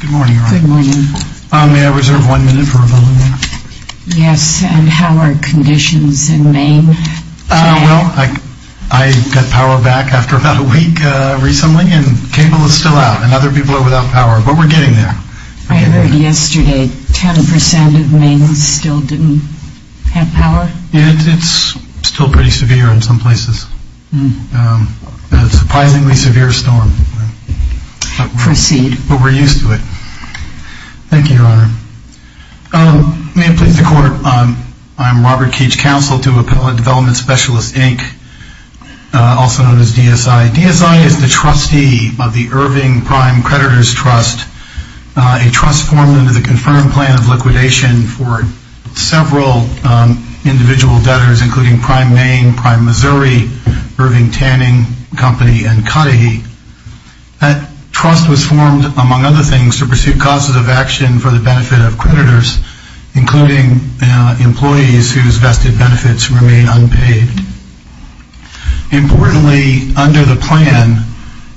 Good morning. May I reserve one minute for rebuttal? Yes, and how are conditions in Maine? Well, I got power back after about a week recently and cable is still out and other people are without power, but we're getting there. I heard yesterday 10% of Maine still didn't have power? It's still pretty severe in some places. A surprisingly severe storm. Proceed. Thank you, Your Honor. May it please the Court, I'm Robert Keech, Counsel to Appellant Development Specialists Inc, also known as DSI. DSI is the trustee of the Irving Prime Creditors Trust, a trust formed under the confirmed plan of liquidation for several individual debtors, including Prime Maine, Prime Missouri, Irving Tanning Company, and Cudahy. That trust was formed, among other things, to pursue causes of action for the benefit of creditors, including employees whose vested benefits remain unpaid. Importantly, under the plan,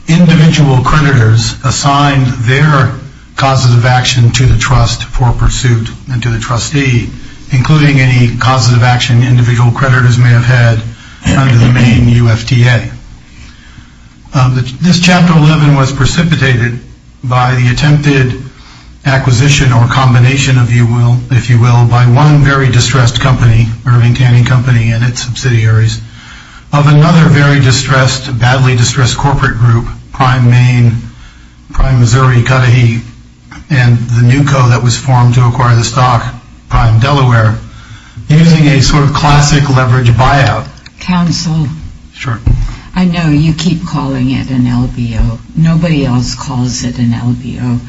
individual creditors assigned their causes of action to the trust for pursuit and to the trustee, including any causes of action individual creditors may have had under the Maine UFTA. This Chapter 11 was precipitated by the attempted acquisition or combination, if you will, by one very distressed company, Irving Tanning Company and its subsidiaries, of another very distressed, badly distressed corporate group, Prime Maine, Prime Missouri, Cudahy, and the new co that was formed to acquire the stock, Prime Delaware, using a sort of classic leverage buyout. Counsel? Sure. I know you keep calling it an LBO. Nobody else calls it an LBO.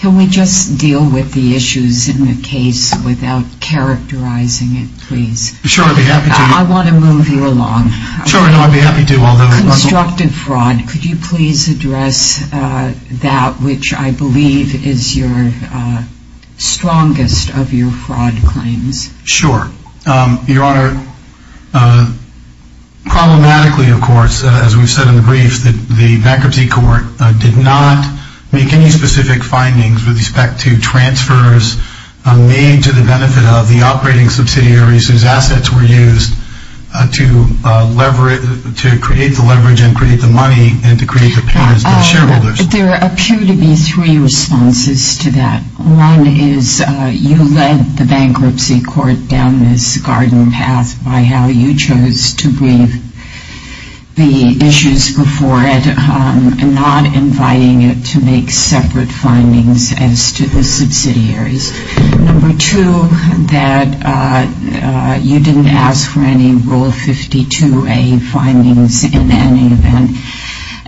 Can we just deal with the issues in the case without characterizing it, please? Sure, I'd be happy to. I want to move you along. Sure, no, I'd be happy to. Constructive fraud. Could you please address that, which I believe is your strongest of your fraud claims? Sure. Your Honor, problematically, of course, as we've said in the brief, the bankruptcy court did not make any specific findings with respect to transfers made to the benefit of the operating subsidiaries whose assets were used to create the leverage and create the money and to create the payments to the shareholders. There appear to be three responses to that. One is you led the bankruptcy court down this garden path by how you chose to brief the issues before it, not inviting it to make separate findings as to the subsidiaries. Number two, that you didn't ask for any Rule 52A findings in any event.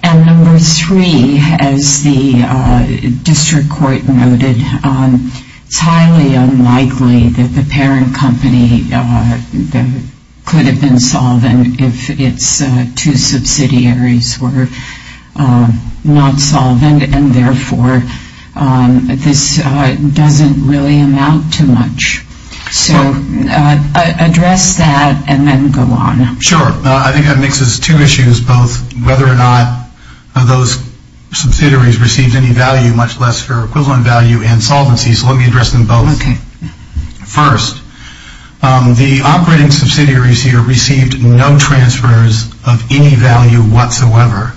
And number three, as the district court noted, it's highly unlikely that the parent company could have been solvent if its two subsidiaries were not solvent, and therefore this doesn't really amount to much. So address that and then go on. Sure. I think that mixes two issues, both whether or not those subsidiaries received any value, much less for equivalent value and solvency. So let me address them both. First, the operating subsidiaries here received no transfers of any value whatsoever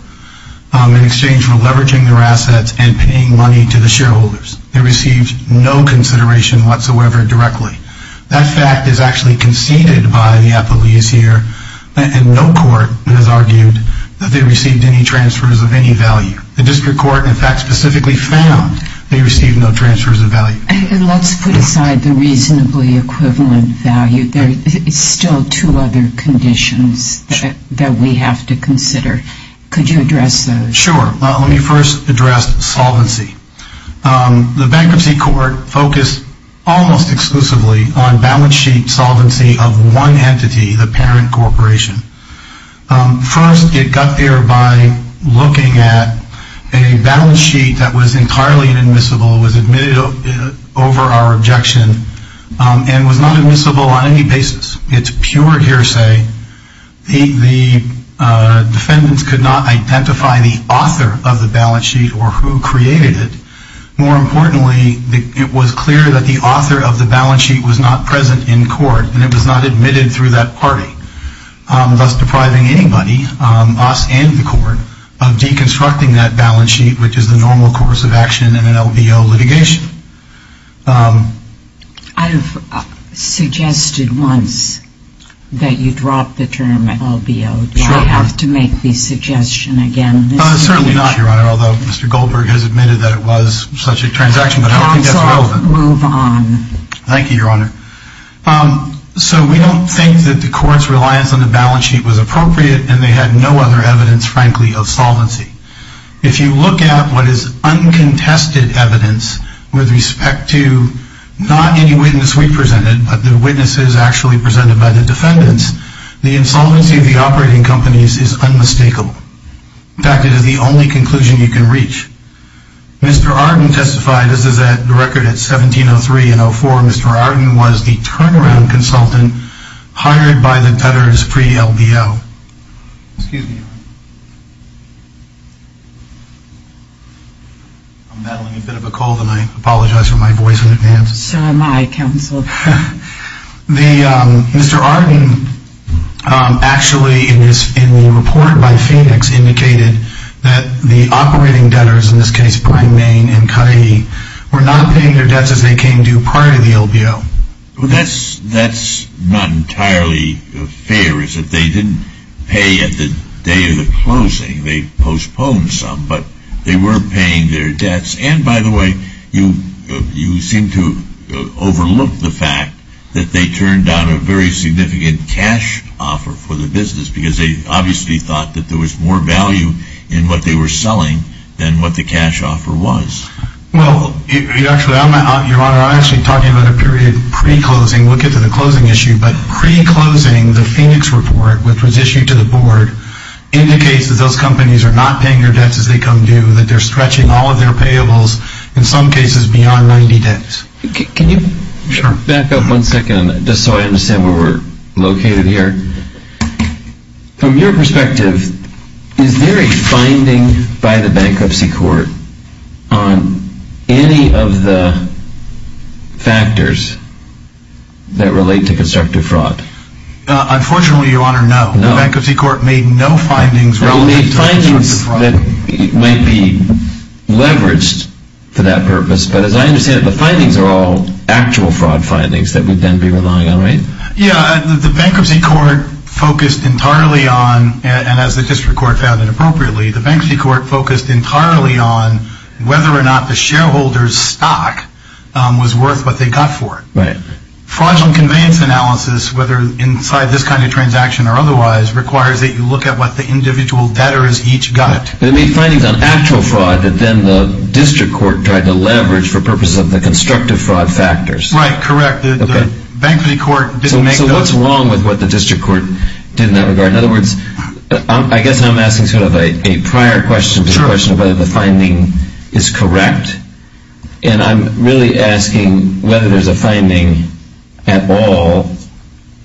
in exchange for leveraging their assets and paying money to the shareholders. They received no consideration whatsoever directly. That fact is actually conceded by the appellees here, and no court has argued that they received any transfers of any value. The district court, in fact, specifically found they received no transfers of value. And let's put aside the reasonably equivalent value. There are still two other conditions that we have to consider. Could you address those? Sure. Let me first address solvency. The bankruptcy court focused almost exclusively on balance sheet solvency of one entity, the parent corporation. First, it got there by looking at a balance sheet that was entirely inadmissible, was admitted over our objection, and was not admissible on any basis. It's pure hearsay. The defendants could not identify the author of the balance sheet or who created it. More importantly, it was clear that the author of the balance sheet was not present in court, and it was not admitted through that party, thus depriving anybody, us and the court, of deconstructing that balance sheet, which is the normal course of action in an LBO litigation. I've suggested once that you drop the term LBO. Sure. Do I have to make the suggestion again? Certainly not, Your Honor, although Mr. Goldberg has admitted that it was such a transaction, but I don't think that's relevant. Counsel, move on. Thank you, Your Honor. So we don't think that the court's reliance on the balance sheet was appropriate, and they had no other evidence, frankly, of solvency. If you look at what is uncontested evidence with respect to not any witness we presented, but the witnesses actually presented by the defendants, the insolvency of the operating companies is unmistakable. In fact, it is the only conclusion you can reach. Mr. Arden testified, this is the record at 1703 and 04, Mr. Arden was the turnaround consultant hired by the Tudors pre-LBO. Excuse me, Your Honor. I'm battling a bit of a cold, and I apologize for my voice in advance. So am I, Counsel. Mr. Arden actually, in the report by Phoenix, indicated that the operating debtors, in this case, Prime, Maine, and Cudahy, were not paying their debts as they came due prior to the LBO. Well, that's not entirely fair, is it? They didn't pay at the day of the closing. They postponed some, but they weren't paying their debts. And, by the way, you seem to overlook the fact that they turned down a very significant cash offer for the business, because they obviously thought that there was more value in what they were selling than what the cash offer was. Well, actually, Your Honor, I'm actually talking about a period pre-closing. We'll get to the closing issue, but pre-closing, the Phoenix report, which was issued to the Board, indicates that those companies are not paying their debts as they come due, that they're stretching all of their payables, in some cases, beyond 90 days. Can you back up one second, just so I understand where we're located here? From your perspective, is there a finding by the Bankruptcy Court on any of the factors that relate to constructive fraud? Unfortunately, Your Honor, no. The Bankruptcy Court made no findings related to constructive fraud. No, it made findings that might be leveraged for that purpose, but as I understand it, the findings are all actual fraud findings that we'd then be relying on, right? Yeah, the Bankruptcy Court focused entirely on, and as the District Court found it appropriately, the Bankruptcy Court focused entirely on whether or not the shareholder's stock was worth what they got for it. Fraudulent conveyance analysis, whether inside this kind of transaction or otherwise, requires that you look at what the individual debtors each got. It made findings on actual fraud that then the District Court tried to leverage for purposes of the constructive fraud factors. Right, correct. The Bankruptcy Court didn't make those. So what's wrong with what the District Court did in that regard? In other words, I guess I'm asking sort of a prior question to the question of whether the finding is correct, and I'm really asking whether there's a finding at all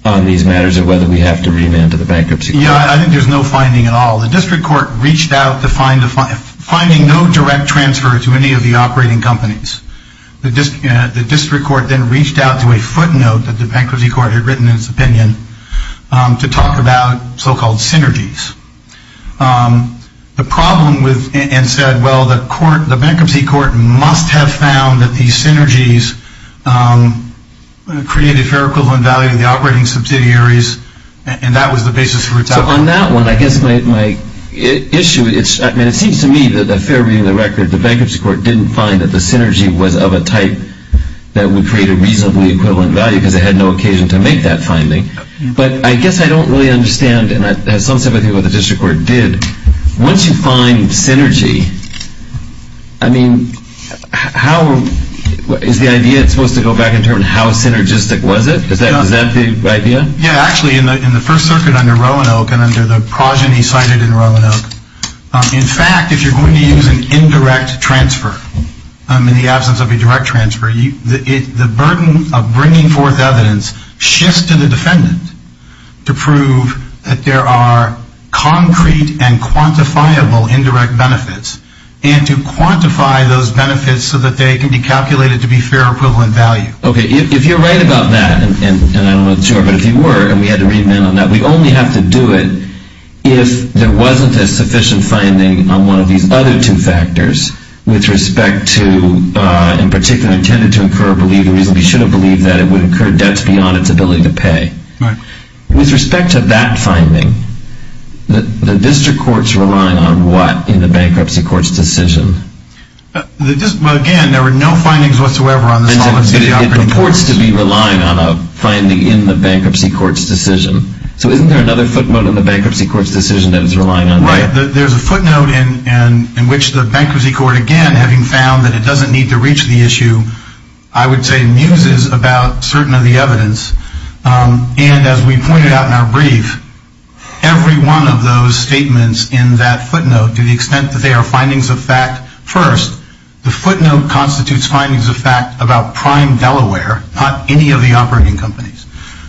on these matters of whether we have to remand to the Bankruptcy Court. Yeah, I think there's no finding at all. The District Court reached out to find no direct transfer to any of the operating companies. The District Court then reached out to a footnote that the Bankruptcy Court had written in its opinion to talk about so-called synergies. The problem with, and said, well, the Bankruptcy Court must have found that these synergies created fair equivalent value to the operating subsidiaries, and that was the basis for its outcome. So on that one, I guess my issue is, I mean, it seems to me that a fair reading of the record, the Bankruptcy Court didn't find that the synergy was of a type that would create a reasonably equivalent value, because it had no occasion to make that finding. But I guess I don't really understand, and at some step I think what the District Court did. Once you find synergy, I mean, is the idea supposed to go back and determine how synergistic was it? Is that the idea? Yeah, actually, in the First Circuit under Roanoke and under the progeny cited in Roanoke, in fact, if you're going to use an indirect transfer, in the absence of a direct transfer, the burden of bringing forth evidence shifts to the defendant to prove that there are concrete and quantifiable indirect benefits, and to quantify those benefits so that they can be calculated to be fair equivalent value. Okay, if you're right about that, and I'm not sure, but if you were, and we had to read men on that, we only have to do it if there wasn't a sufficient finding on one of these other two factors with respect to, in particular, intended to incur, believe, the reason we should have believed that it would incur debts beyond its ability to pay. With respect to that finding, the District Court's relying on what in the Bankruptcy Court's decision? Again, there were no findings whatsoever on this. It purports to be relying on a finding in the Bankruptcy Court's decision, so isn't there another footnote in the Bankruptcy Court's decision that it's relying on? Right, there's a footnote in which the Bankruptcy Court, again, having found that it doesn't need to reach the issue, I would say muses about certain of the evidence, and as we pointed out in our brief, every one of those statements in that footnote, to the extent that they are findings of fact first, the footnote constitutes findings of fact about Prime Delaware, not any of the operating companies.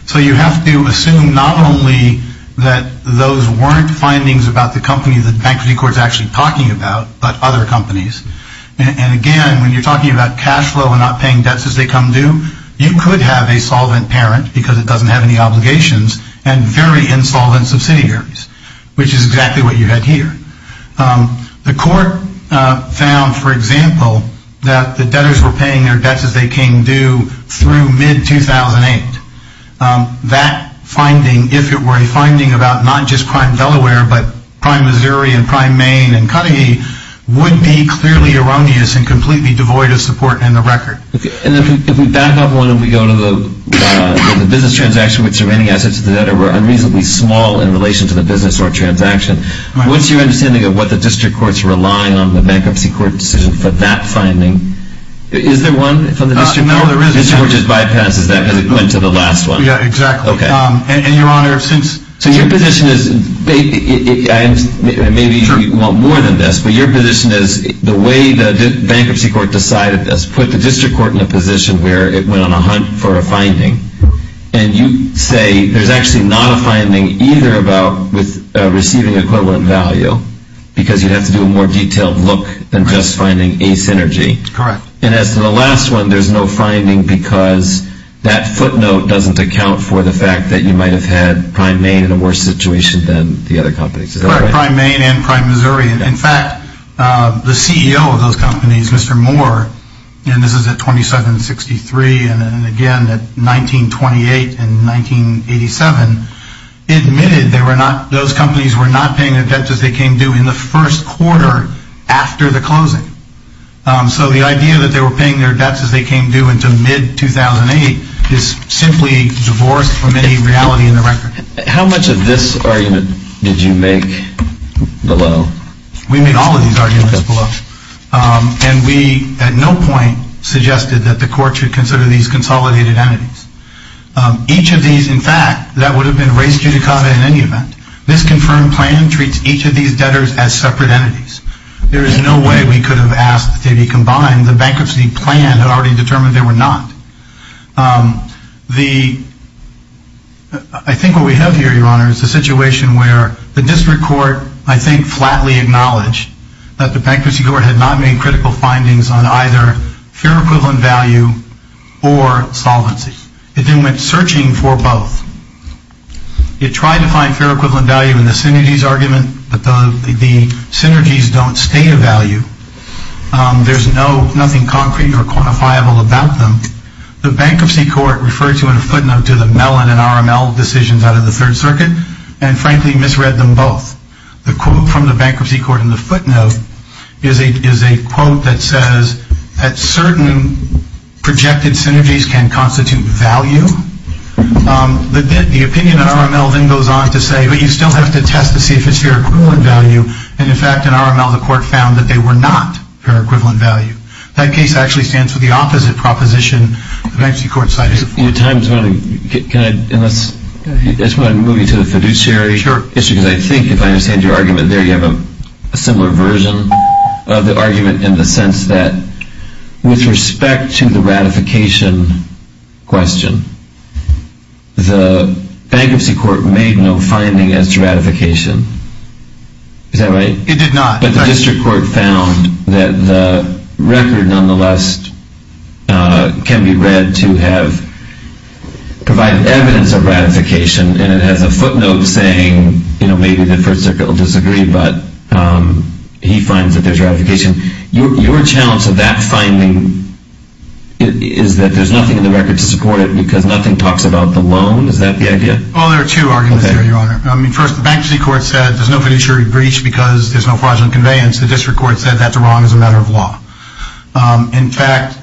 So you have to assume not only that those weren't findings about the company that the Bankruptcy Court's actually talking about, but other companies, and again, when you're talking about cash flow and not paying debts as they come due, you could have a solvent parent, because it doesn't have any obligations, and very insolvent subsidiaries, which is exactly what you had here. The Court found, for example, that the debtors were paying their debts as they came due through mid-2008. That finding, if it were a finding about not just Prime Delaware, but Prime Missouri and Prime Maine and Cudahy, would be clearly erroneous and completely devoid of support in the record. And if we back up one and we go to the business transaction, which the remaining assets of the debtor were unreasonably small in relation to the business or transaction, what's your understanding of what the District Court's relying on the Bankruptcy Court's decision for that finding? Is there one from the District Court? No, there isn't. The District Court just bypasses that because it went to the last one. Yeah, exactly. Okay. And, Your Honor, since... So your position is, maybe you want more than this, but your position is the way the Bankruptcy Court decided this, put the District Court in a position where it went on a hunt for a finding, and you say there's actually not a finding either about receiving equivalent value, because you'd have to do a more detailed look than just finding a synergy. Correct. And as to the last one, there's no finding because that footnote doesn't account for the fact that you might have had Prime Maine in a worse situation than the other companies. Correct, Prime Maine and Prime Missouri. In fact, the CEO of those companies, Mr. Moore, and this is at 2763, and again at 1928 and 1987, admitted those companies were not paying their debts as they came due in the first quarter after the closing. So the idea that they were paying their debts as they came due into mid-2008 is simply divorced from any reality in the record. How much of this argument did you make below? We made all of these arguments below, and we at no point suggested that the Court should consider these consolidated entities. Each of these, in fact, that would have been raised judicata in any event. This confirmed plan treats each of these debtors as separate entities. There is no way we could have asked that they be combined. The Bankruptcy Plan had already determined they were not. I think what we have here, Your Honor, is a situation where the District Court, I think, flatly acknowledged that the Bankruptcy Court had not made critical findings on either fair equivalent value or solvency. It then went searching for both. It tried to find fair equivalent value in the synergies argument, but the synergies don't state a value. There is nothing concrete or quantifiable about them. The Bankruptcy Court referred to in a footnote to the Mellon and RML decisions out of the Third Circuit, and frankly misread them both. The quote from the Bankruptcy Court in the footnote is a quote that says that certain projected synergies can constitute value. The opinion of RML then goes on to say, but you still have to test to see if it's fair equivalent value, and in fact in RML the Court found that they were not fair equivalent value. That case actually stands for the opposite proposition the Bankruptcy Court cited. Can I move you to the fiduciary issue? Sure. Because I think if I understand your argument there, you have a similar version of the argument in the sense that with respect to the ratification question, the Bankruptcy Court made no finding as to ratification. Is that right? It did not. But the District Court found that the record nonetheless can be read to provide evidence of ratification, and it has a footnote saying maybe the First Circuit will disagree, but he finds that there's ratification. Your challenge to that finding is that there's nothing in the record to support it because nothing talks about the loan? Is that the idea? Well, there are two arguments there, Your Honor. First, the Bankruptcy Court said there's no fiduciary breach because there's no fraudulent conveyance. The District Court said that's wrong as a matter of law. In fact,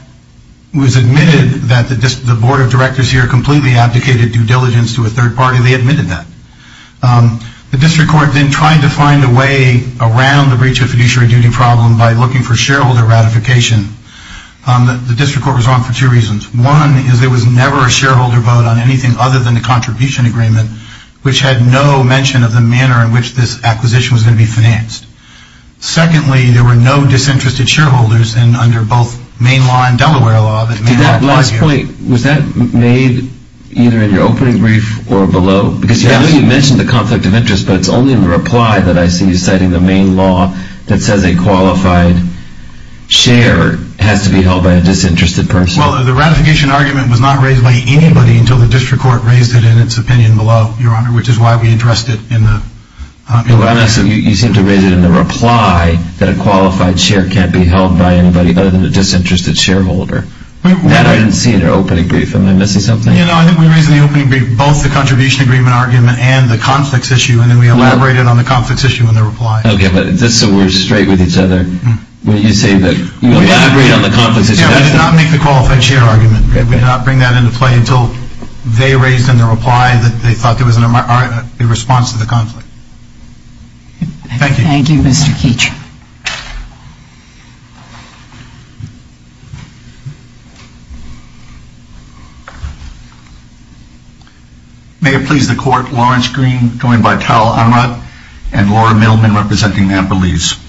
it was admitted that the Board of Directors here completely abdicated due diligence to a third party. They admitted that. The District Court then tried to find a way around the breach of fiduciary duty problem by looking for shareholder ratification. The District Court was wrong for two reasons. One is there was never a shareholder vote on anything other than the contribution agreement, which had no mention of the manner in which this acquisition was going to be financed. Secondly, there were no disinterested shareholders, and under both Maine law and Delaware law, that may apply here. Did that last point, was that made either in your opening brief or below? Because I know you mentioned the conflict of interest, but it's only in reply that I see you citing the Maine law that says a qualified share has to be held by a disinterested person. Well, the ratification argument was not raised by anybody until the District Court raised it in its opinion below, Your Honor, which is why we addressed it in the reply. So you seem to raise it in the reply that a qualified share can't be held by anybody other than a disinterested shareholder. That I didn't see in your opening brief. Am I missing something? No, I think we raised in the opening brief both the contribution agreement argument and the conflicts issue, and then we elaborated on the conflicts issue in the reply. Okay, but just so we're straight with each other, when you say that you elaborated on the conflicts issue, that's the— Yeah, we did not make the qualified share argument. We did not bring that into play until they raised in their reply that they thought there was a response to the conflict. Thank you. Thank you, Mr. Keech. May it please the Court, Lawrence Green, joined by Tal Ahmad and Laura Middleman representing Amber Lees.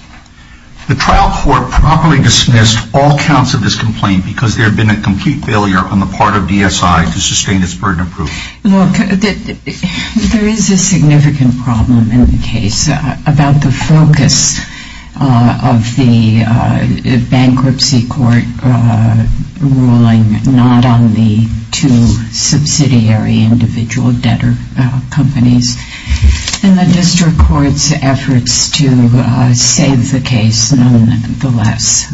The trial court properly dismissed all counts of this complaint because there had been a complete failure on the part of DSI to sustain its burden of proof. Look, there is a significant problem in the case about the focus of the bankruptcy court ruling not on the two subsidiary individual debtor companies and the district court's efforts to save the case nonetheless.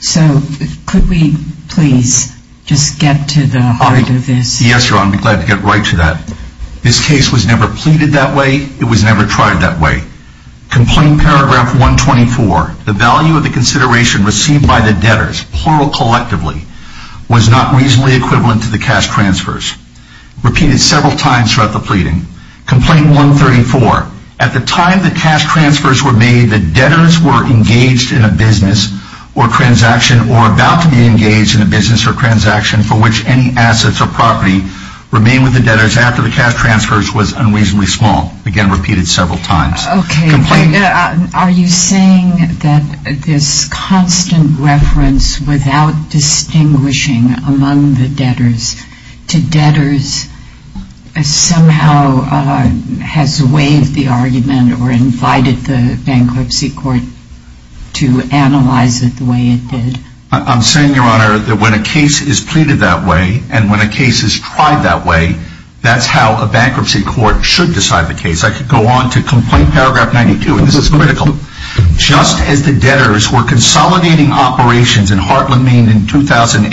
So could we please just get to the heart of this? Yes, Your Honor. I'd be glad to get right to that. This case was never pleaded that way. It was never tried that way. Complaint paragraph 124, the value of the consideration received by the debtors, plural collectively, was not reasonably equivalent to the cash transfers. Repeated several times throughout the pleading. Complaint 134, at the time the cash transfers were made, the debtors were engaged in a business or transaction or about to be engaged in a business or transaction for which any assets or property remained with the debtors after the cash transfers was unreasonably small. Again, repeated several times. Okay. Are you saying that this constant reference without distinguishing among the debtors to debtors somehow has waived the argument or invited the bankruptcy court to analyze it the way it did? I'm saying, Your Honor, that when a case is pleaded that way and when a case is tried that way, that's how a bankruptcy court should decide the case. I could go on to complaint paragraph 92, and this is critical. Just as the debtors were consolidating operations in Heartland, Maine in 2008,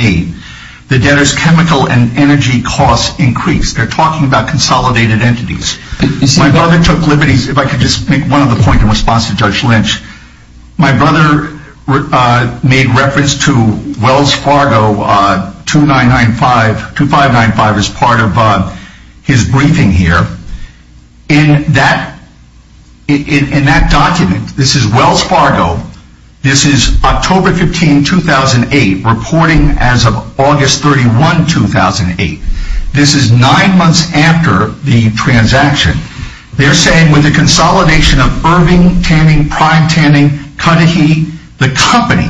the debtors' chemical and energy costs increased. They're talking about consolidated entities. My brother took liberties. If I could just make one other point in response to Judge Lynch. My brother made reference to Wells Fargo 2995, 2595 as part of his briefing here. In that document, this is Wells Fargo. This is October 15, 2008, reporting as of August 31, 2008. This is nine months after the transaction. They're saying with the consolidation of Irving, Tanning, Prime, Tanning, Cudahy, the company,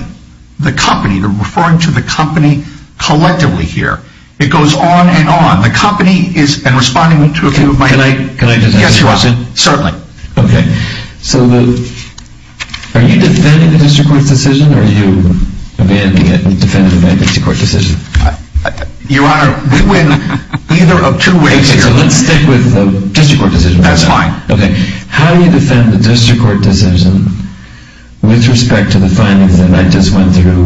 the company, they're referring to the company collectively here. It goes on and on. The company is, and responding to a few of my— Can I just add something? Yes, you are. Certainly. Okay, so are you defending the district court's decision, or are you defending my district court decision? Your Honor, we went either of two ways here. Okay, so let's stick with the district court decision. That's fine. Okay, how do you defend the district court decision with respect to the findings that I just went through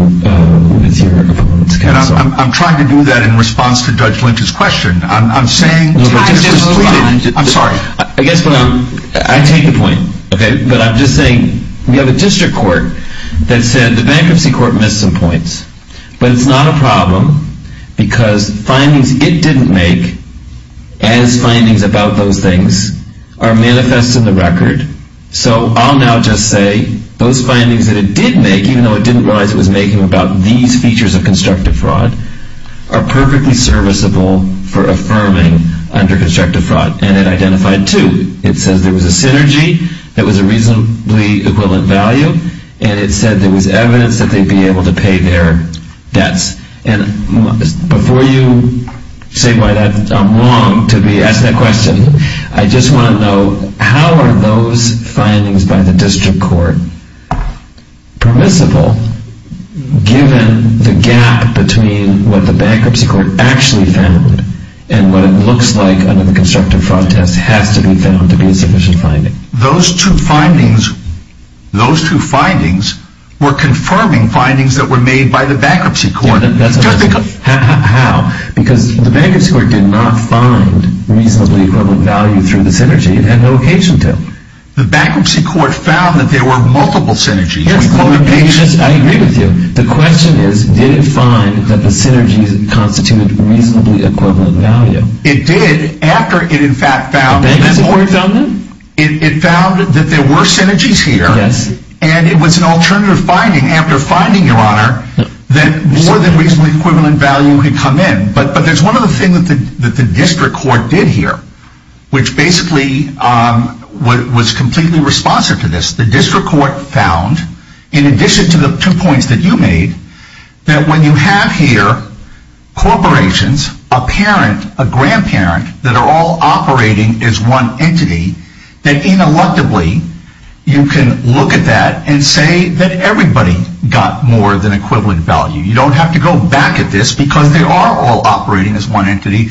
with your opponents? I'm trying to do that in response to Judge Lynch's question. I'm saying— Can I just— I'm sorry. I guess what I'm—I take the point, okay? But I'm just saying we have a district court that said the bankruptcy court missed some points. But it's not a problem because findings it didn't make as findings about those things are manifest in the record. So I'll now just say those findings that it did make, even though it didn't realize it was making them about these features of constructive fraud, are perfectly serviceable for affirming under constructive fraud, and it identified two. It says there was a synergy that was a reasonably equivalent value, and it said there was evidence that they'd be able to pay their debts. And before you say by that I'm wrong to be asked that question, I just want to know how are those findings by the district court permissible given the gap between what the bankruptcy court actually found and what it looks like under the constructive fraud test has to be found to be a sufficient finding. Those two findings were confirming findings that were made by the bankruptcy court. How? Because the bankruptcy court did not find reasonably equivalent value through the synergy. It had no occasion to. The bankruptcy court found that there were multiple synergies. Yes, I agree with you. The question is, did it find that the synergies constituted reasonably equivalent value? It did after it in fact found that there were synergies here. Yes. And it was an alternative finding after finding, Your Honor, that more than reasonably equivalent value had come in. But there's one other thing that the district court did here, which basically was completely responsive to this. The district court found, in addition to the two points that you made, that when you have here corporations, a parent, a grandparent, that are all operating as one entity, that ineluctably you can look at that and say that everybody got more than equivalent value. You don't have to go back at this because they are all operating as one entity.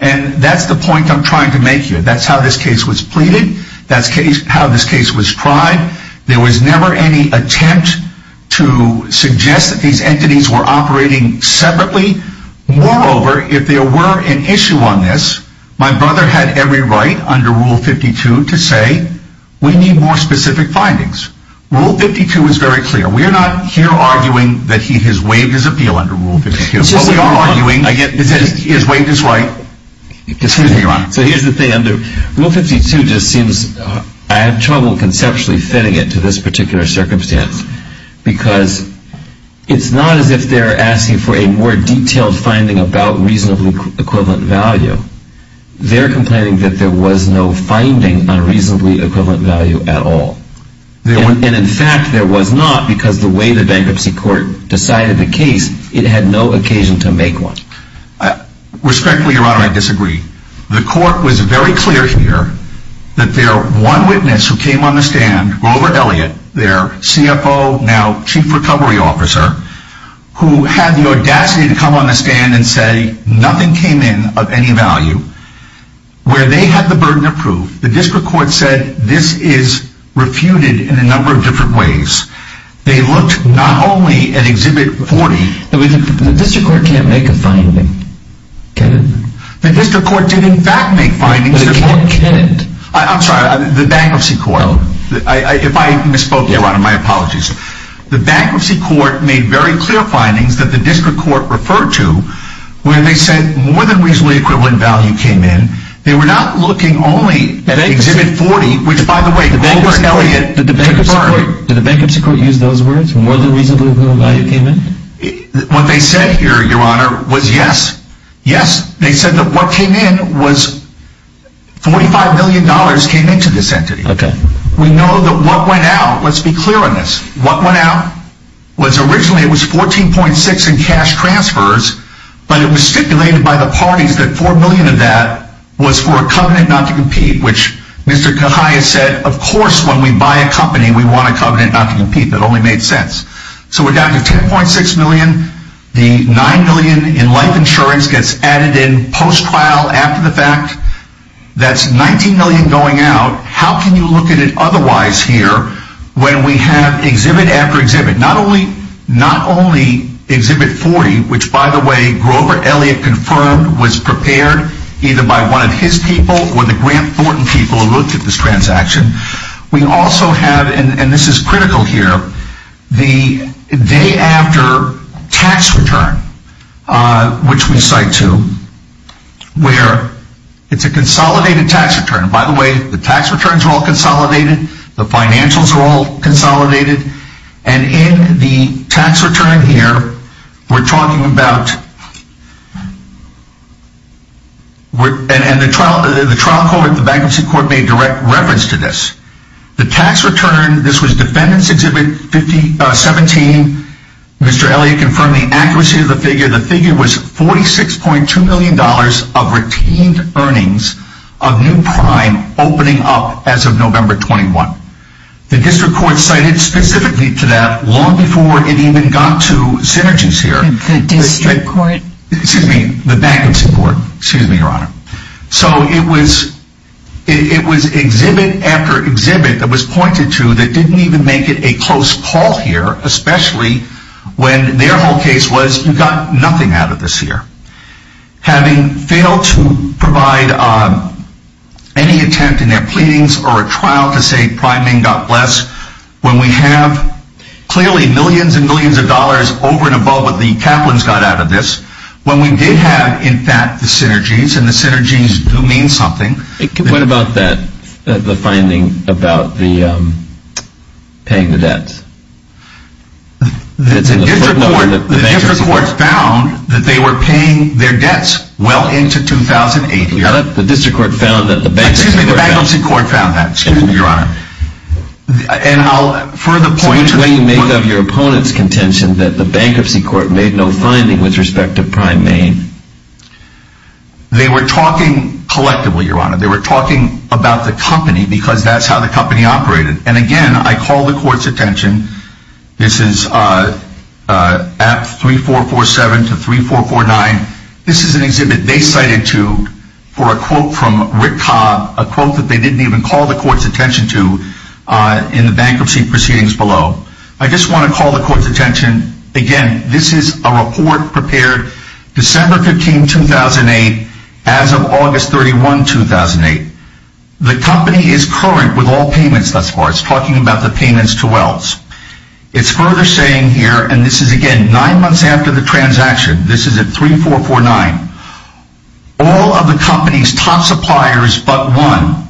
And that's the point I'm trying to make here. That's how this case was pleaded. That's how this case was tried. There was never any attempt to suggest that these entities were operating separately. Moreover, if there were an issue on this, my brother had every right under Rule 52 to say, we need more specific findings. Rule 52 is very clear. We are not here arguing that he has waived his appeal under Rule 52. What we are arguing is that he has waived his right. Excuse me, Your Honor. So here's the thing, Andrew. Rule 52 just seems, I have trouble conceptually fitting it to this particular circumstance because it's not as if they're asking for a more detailed finding about reasonably equivalent value. They're complaining that there was no finding on reasonably equivalent value at all. And in fact, there was not because the way the bankruptcy court decided the case, it had no occasion to make one. Respectfully, Your Honor, I disagree. The court was very clear here that their one witness who came on the stand, Grover Elliott, their CFO, now Chief Recovery Officer, who had the audacity to come on the stand and say nothing came in of any value, where they had the burden of proof, the district court said this is refuted in a number of different ways. They looked not only at Exhibit 40. The district court can't make a finding, Kevin. The district court did, in fact, make findings. But it can't. I'm sorry, the bankruptcy court. If I misspoke, Your Honor, my apologies. The bankruptcy court made very clear findings that the district court referred to when they said more than reasonably equivalent value came in. They were not looking only at Exhibit 40, which, by the way, Grover Elliott confirmed. Did the bankruptcy court use those words, more than reasonably equivalent value came in? What they said here, Your Honor, was yes. Yes. They said that what came in was $45 million came into this entity. We know that what went out, let's be clear on this, what went out was originally it was $14.6 million in cash transfers, but it was stipulated by the parties that $4 million of that was for a covenant not to compete, which Mr. Cahill said, of course, when we buy a company, we want a covenant not to compete. That only made sense. So we're down to $10.6 million. The $9 million in life insurance gets added in post-trial after the fact. That's $19 million going out. How can you look at it otherwise here when we have exhibit after exhibit? Not only Exhibit 40, which, by the way, Grover Elliott confirmed was prepared either by one of his people or the Grant Thornton people who looked at this transaction. We also have, and this is critical here, the day after tax return, which we cite to, where it's a consolidated tax return. By the way, the tax returns are all consolidated. The financials are all consolidated. And in the tax return here, we're talking about, and the trial court, the bankruptcy court made direct reference to this. The tax return, this was Defendant's Exhibit 17. Mr. Elliott confirmed the accuracy of the figure. The figure was $46.2 million of retained earnings of new prime opening up as of November 21. The district court cited specifically to that long before it even got to synergies here. The district court? Excuse me, the bankruptcy court. Excuse me, Your Honor. So it was exhibit after exhibit that was pointed to that didn't even make it a close call here, especially when their whole case was you got nothing out of this here. Having failed to provide any attempt in their pleadings or a trial to say priming got less, when we have clearly millions and millions of dollars over and above what the Kaplan's got out of this, when we did have, in fact, the synergies, and the synergies do mean something. What about that, the finding about the paying the debts? The district court found that they were paying their debts well into 2008. The district court found that the bankruptcy court found that. Excuse me, the bankruptcy court found that. Excuse me, Your Honor. And I'll further point to that. So which way do you make of your opponent's contention that the bankruptcy court made no finding with respect to Prime Main? They were talking collectively, Your Honor. They were talking about the company because that's how the company operated. And, again, I call the court's attention. This is at 3447 to 3449. This is an exhibit they cited to for a quote from Rick Cobb, a quote that they didn't even call the court's attention to in the bankruptcy proceedings below. I just want to call the court's attention. Again, this is a report prepared December 15, 2008, as of August 31, 2008. The company is current with all payments thus far. It's talking about the payments to Wells. It's further saying here, and this is, again, nine months after the transaction. This is at 3449. All of the company's top suppliers but one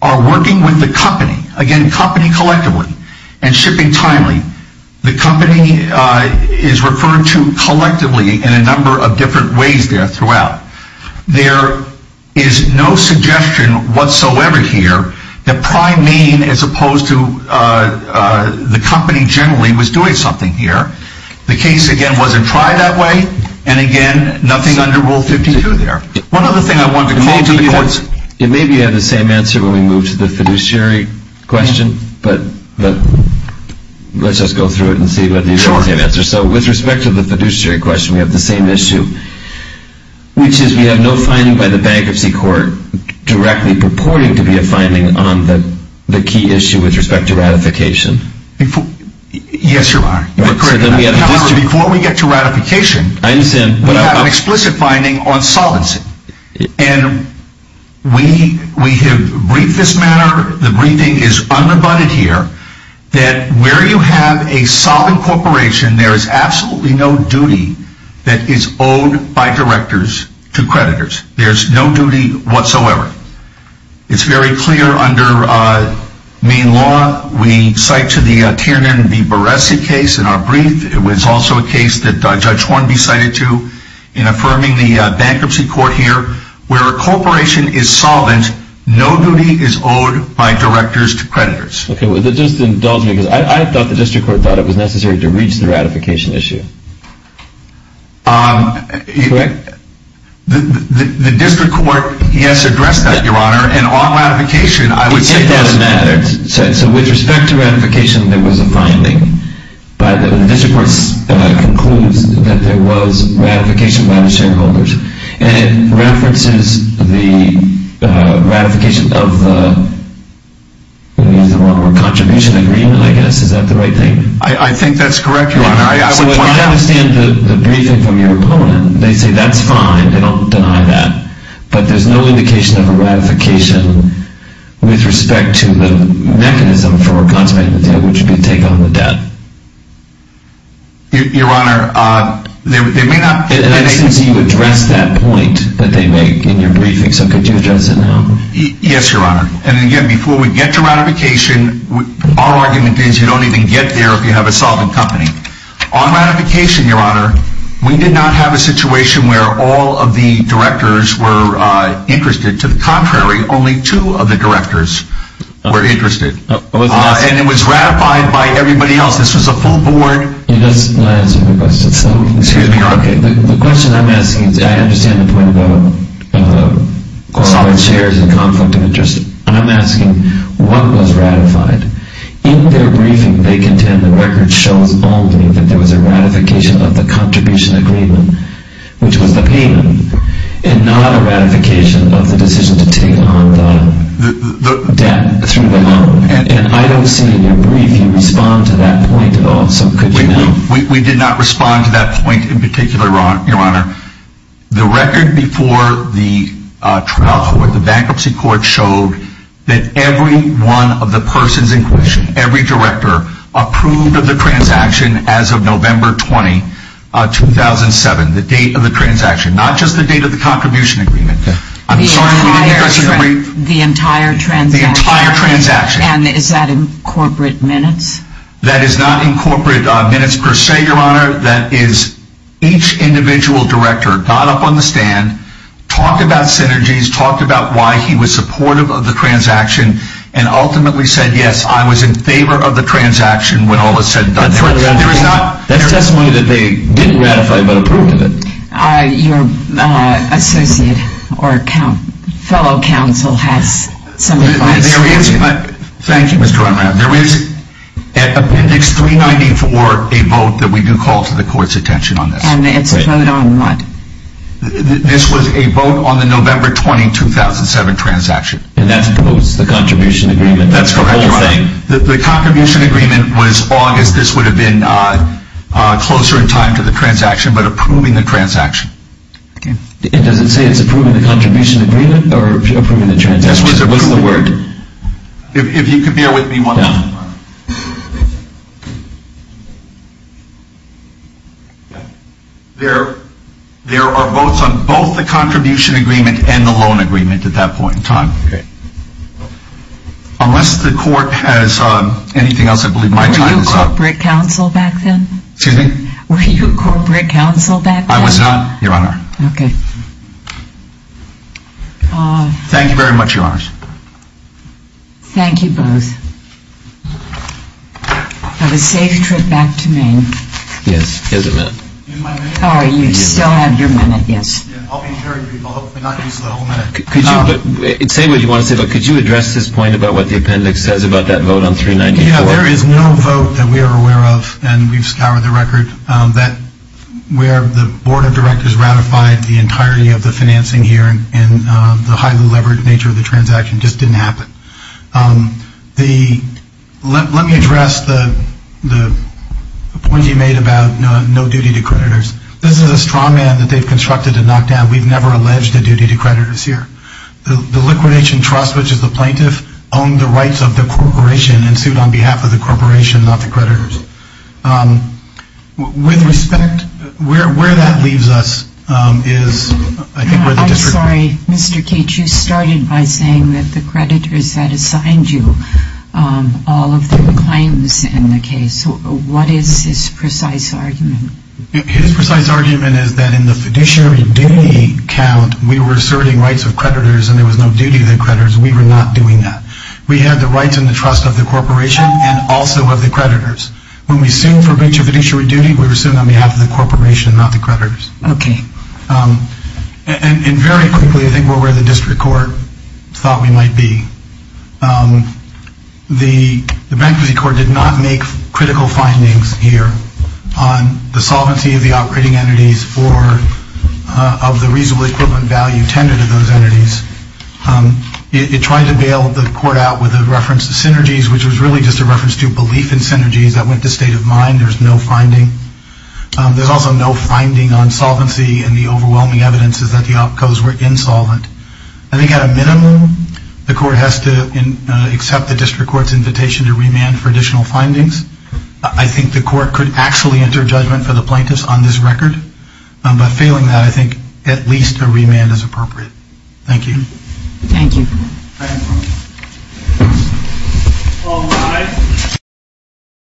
are working with the company. Again, company collectively and shipping timely. The company is referred to collectively in a number of different ways there throughout. There is no suggestion whatsoever here that Prime Main, as opposed to the company generally, was doing something here. The case, again, wasn't tried that way. And, again, nothing under Rule 52 there. One other thing I want to call to the courts. It may be you have the same answer when we move to the fiduciary question, but let's just go through it and see whether you have the same answer. With respect to the fiduciary question, we have the same issue, which is we have no finding by the Bankruptcy Court directly purporting to be a finding on the key issue with respect to ratification. Yes, you are. Before we get to ratification, we have an explicit finding on solvency. And we have briefed this matter. The briefing is unabundant here. That where you have a solvent corporation, there is absolutely no duty that is owed by directors to creditors. There is no duty whatsoever. It's very clear under Main Law. We cite to the Tiernan v. Baresi case in our brief. It was also a case that Judge Hornby cited to in affirming the Bankruptcy Court here. Where a corporation is solvent, no duty is owed by directors to creditors. Okay. Just indulge me because I thought the District Court thought it was necessary to reach the ratification issue. Correct? The District Court, yes, addressed that, Your Honor. And on ratification, I would say that. It doesn't matter. So with respect to ratification, there was a finding. But the District Court concludes that there was ratification by the shareholders. And it references the ratification of the contribution agreement, I guess. Is that the right thing? I think that's correct, Your Honor. So if you don't understand the briefing from your opponent, they say that's fine. They don't deny that. But there's no indication of a ratification with respect to the mechanism for a consolidated deal, which would be to take on the debt. Your Honor, they may not. And I didn't see you address that point that they make in your briefing, so could you address it now? Yes, Your Honor. And again, before we get to ratification, our argument is you don't even get there if you have a solvent company. On ratification, Your Honor, we did not have a situation where all of the directors were interested. To the contrary, only two of the directors were interested. And it was ratified by everybody else. This was a full board. You're just not answering my question. Excuse me, Your Honor. Okay, the question I'm asking, I understand the point about solid shares and conflict of interest. I'm asking what was ratified? In their briefing, they contend the record shows only that there was a ratification of the contribution agreement, which was the payment, and not a ratification of the decision to take on the debt through the loan. And I don't see in your briefing you respond to that point at all, so could you now? We did not respond to that point in particular, Your Honor. The record before the trial court, the bankruptcy court, showed that every one of the persons in question, every director approved of the transaction as of November 20, 2007, the date of the transaction, not just the date of the contribution agreement. The entire transaction? The entire transaction. And is that in corporate minutes? That is not in corporate minutes per se, Your Honor. That is each individual director got up on the stand, talked about synergies, talked about why he was supportive of the transaction, and ultimately said, yes, I was in favor of the transaction when all was said and done. That's testimony that they didn't ratify but approved of it. Your associate or fellow counsel has some advice. Thank you, Mr. Unram. There is at Appendix 394 a vote that we do call to the court's attention on this. And it's a vote on what? This was a vote on the November 20, 2007 transaction. And that's opposed to the contribution agreement. That's correct, Your Honor. The contribution agreement was August. This would have been closer in time to the transaction but approving the transaction. Does it say it's approving the contribution agreement or approving the transaction? What's the word? If you could bear with me one moment. There are votes on both the contribution agreement and the loan agreement at that point in time. Unless the court has anything else, I believe my time is up. Were you a corporate counsel back then? Excuse me? Were you a corporate counsel back then? I was not, Your Honor. Okay. Thank you very much, Your Honors. Thank you both. Have a safe trip back to Maine. Yes. Here's a minute. Oh, you still have your minute. Yes. I'll be hearing people. Hopefully not use the whole minute. Could you address this point about what the appendix says about that vote on 394? There is no vote that we are aware of, and we've scoured the record, where the board of directors ratified the entirety of the financing here and the highly levered nature of the transaction just didn't happen. Let me address the point you made about no duty to creditors. This is a strongman that they've constructed to knock down. We've never alleged a duty to creditors here. The liquidation trust, which is the plaintiff, owned the rights of the corporation and sued on behalf of the corporation, not the creditors. With respect, where that leaves us is I think where the district. I'm sorry, Mr. Keach. You started by saying that the creditors had assigned you all of the claims in the case. What is his precise argument? His precise argument is that in the fiduciary duty count, we were asserting rights of creditors and there was no duty to the creditors. We were not doing that. We had the rights and the trust of the corporation and also of the creditors. When we sued for fiduciary duty, we were suing on behalf of the corporation, not the creditors. Okay. And very quickly, I think we're where the district court thought we might be. The bankruptcy court did not make critical findings here on the solvency of the operating entities or of the reasonable equivalent value tended to those entities. It tried to bail the court out with a reference to synergies, which was really just a reference to belief in synergies that went to state of mind. There's no finding. There's also no finding on solvency, and the overwhelming evidence is that the opcos were insolvent. I think at a minimum, the court has to accept the district court's invitation to remand for additional findings. I think the court could actually enter judgment for the plaintiffs on this record, but failing that, I think at least a remand is appropriate. Thank you. Thank you. All rise.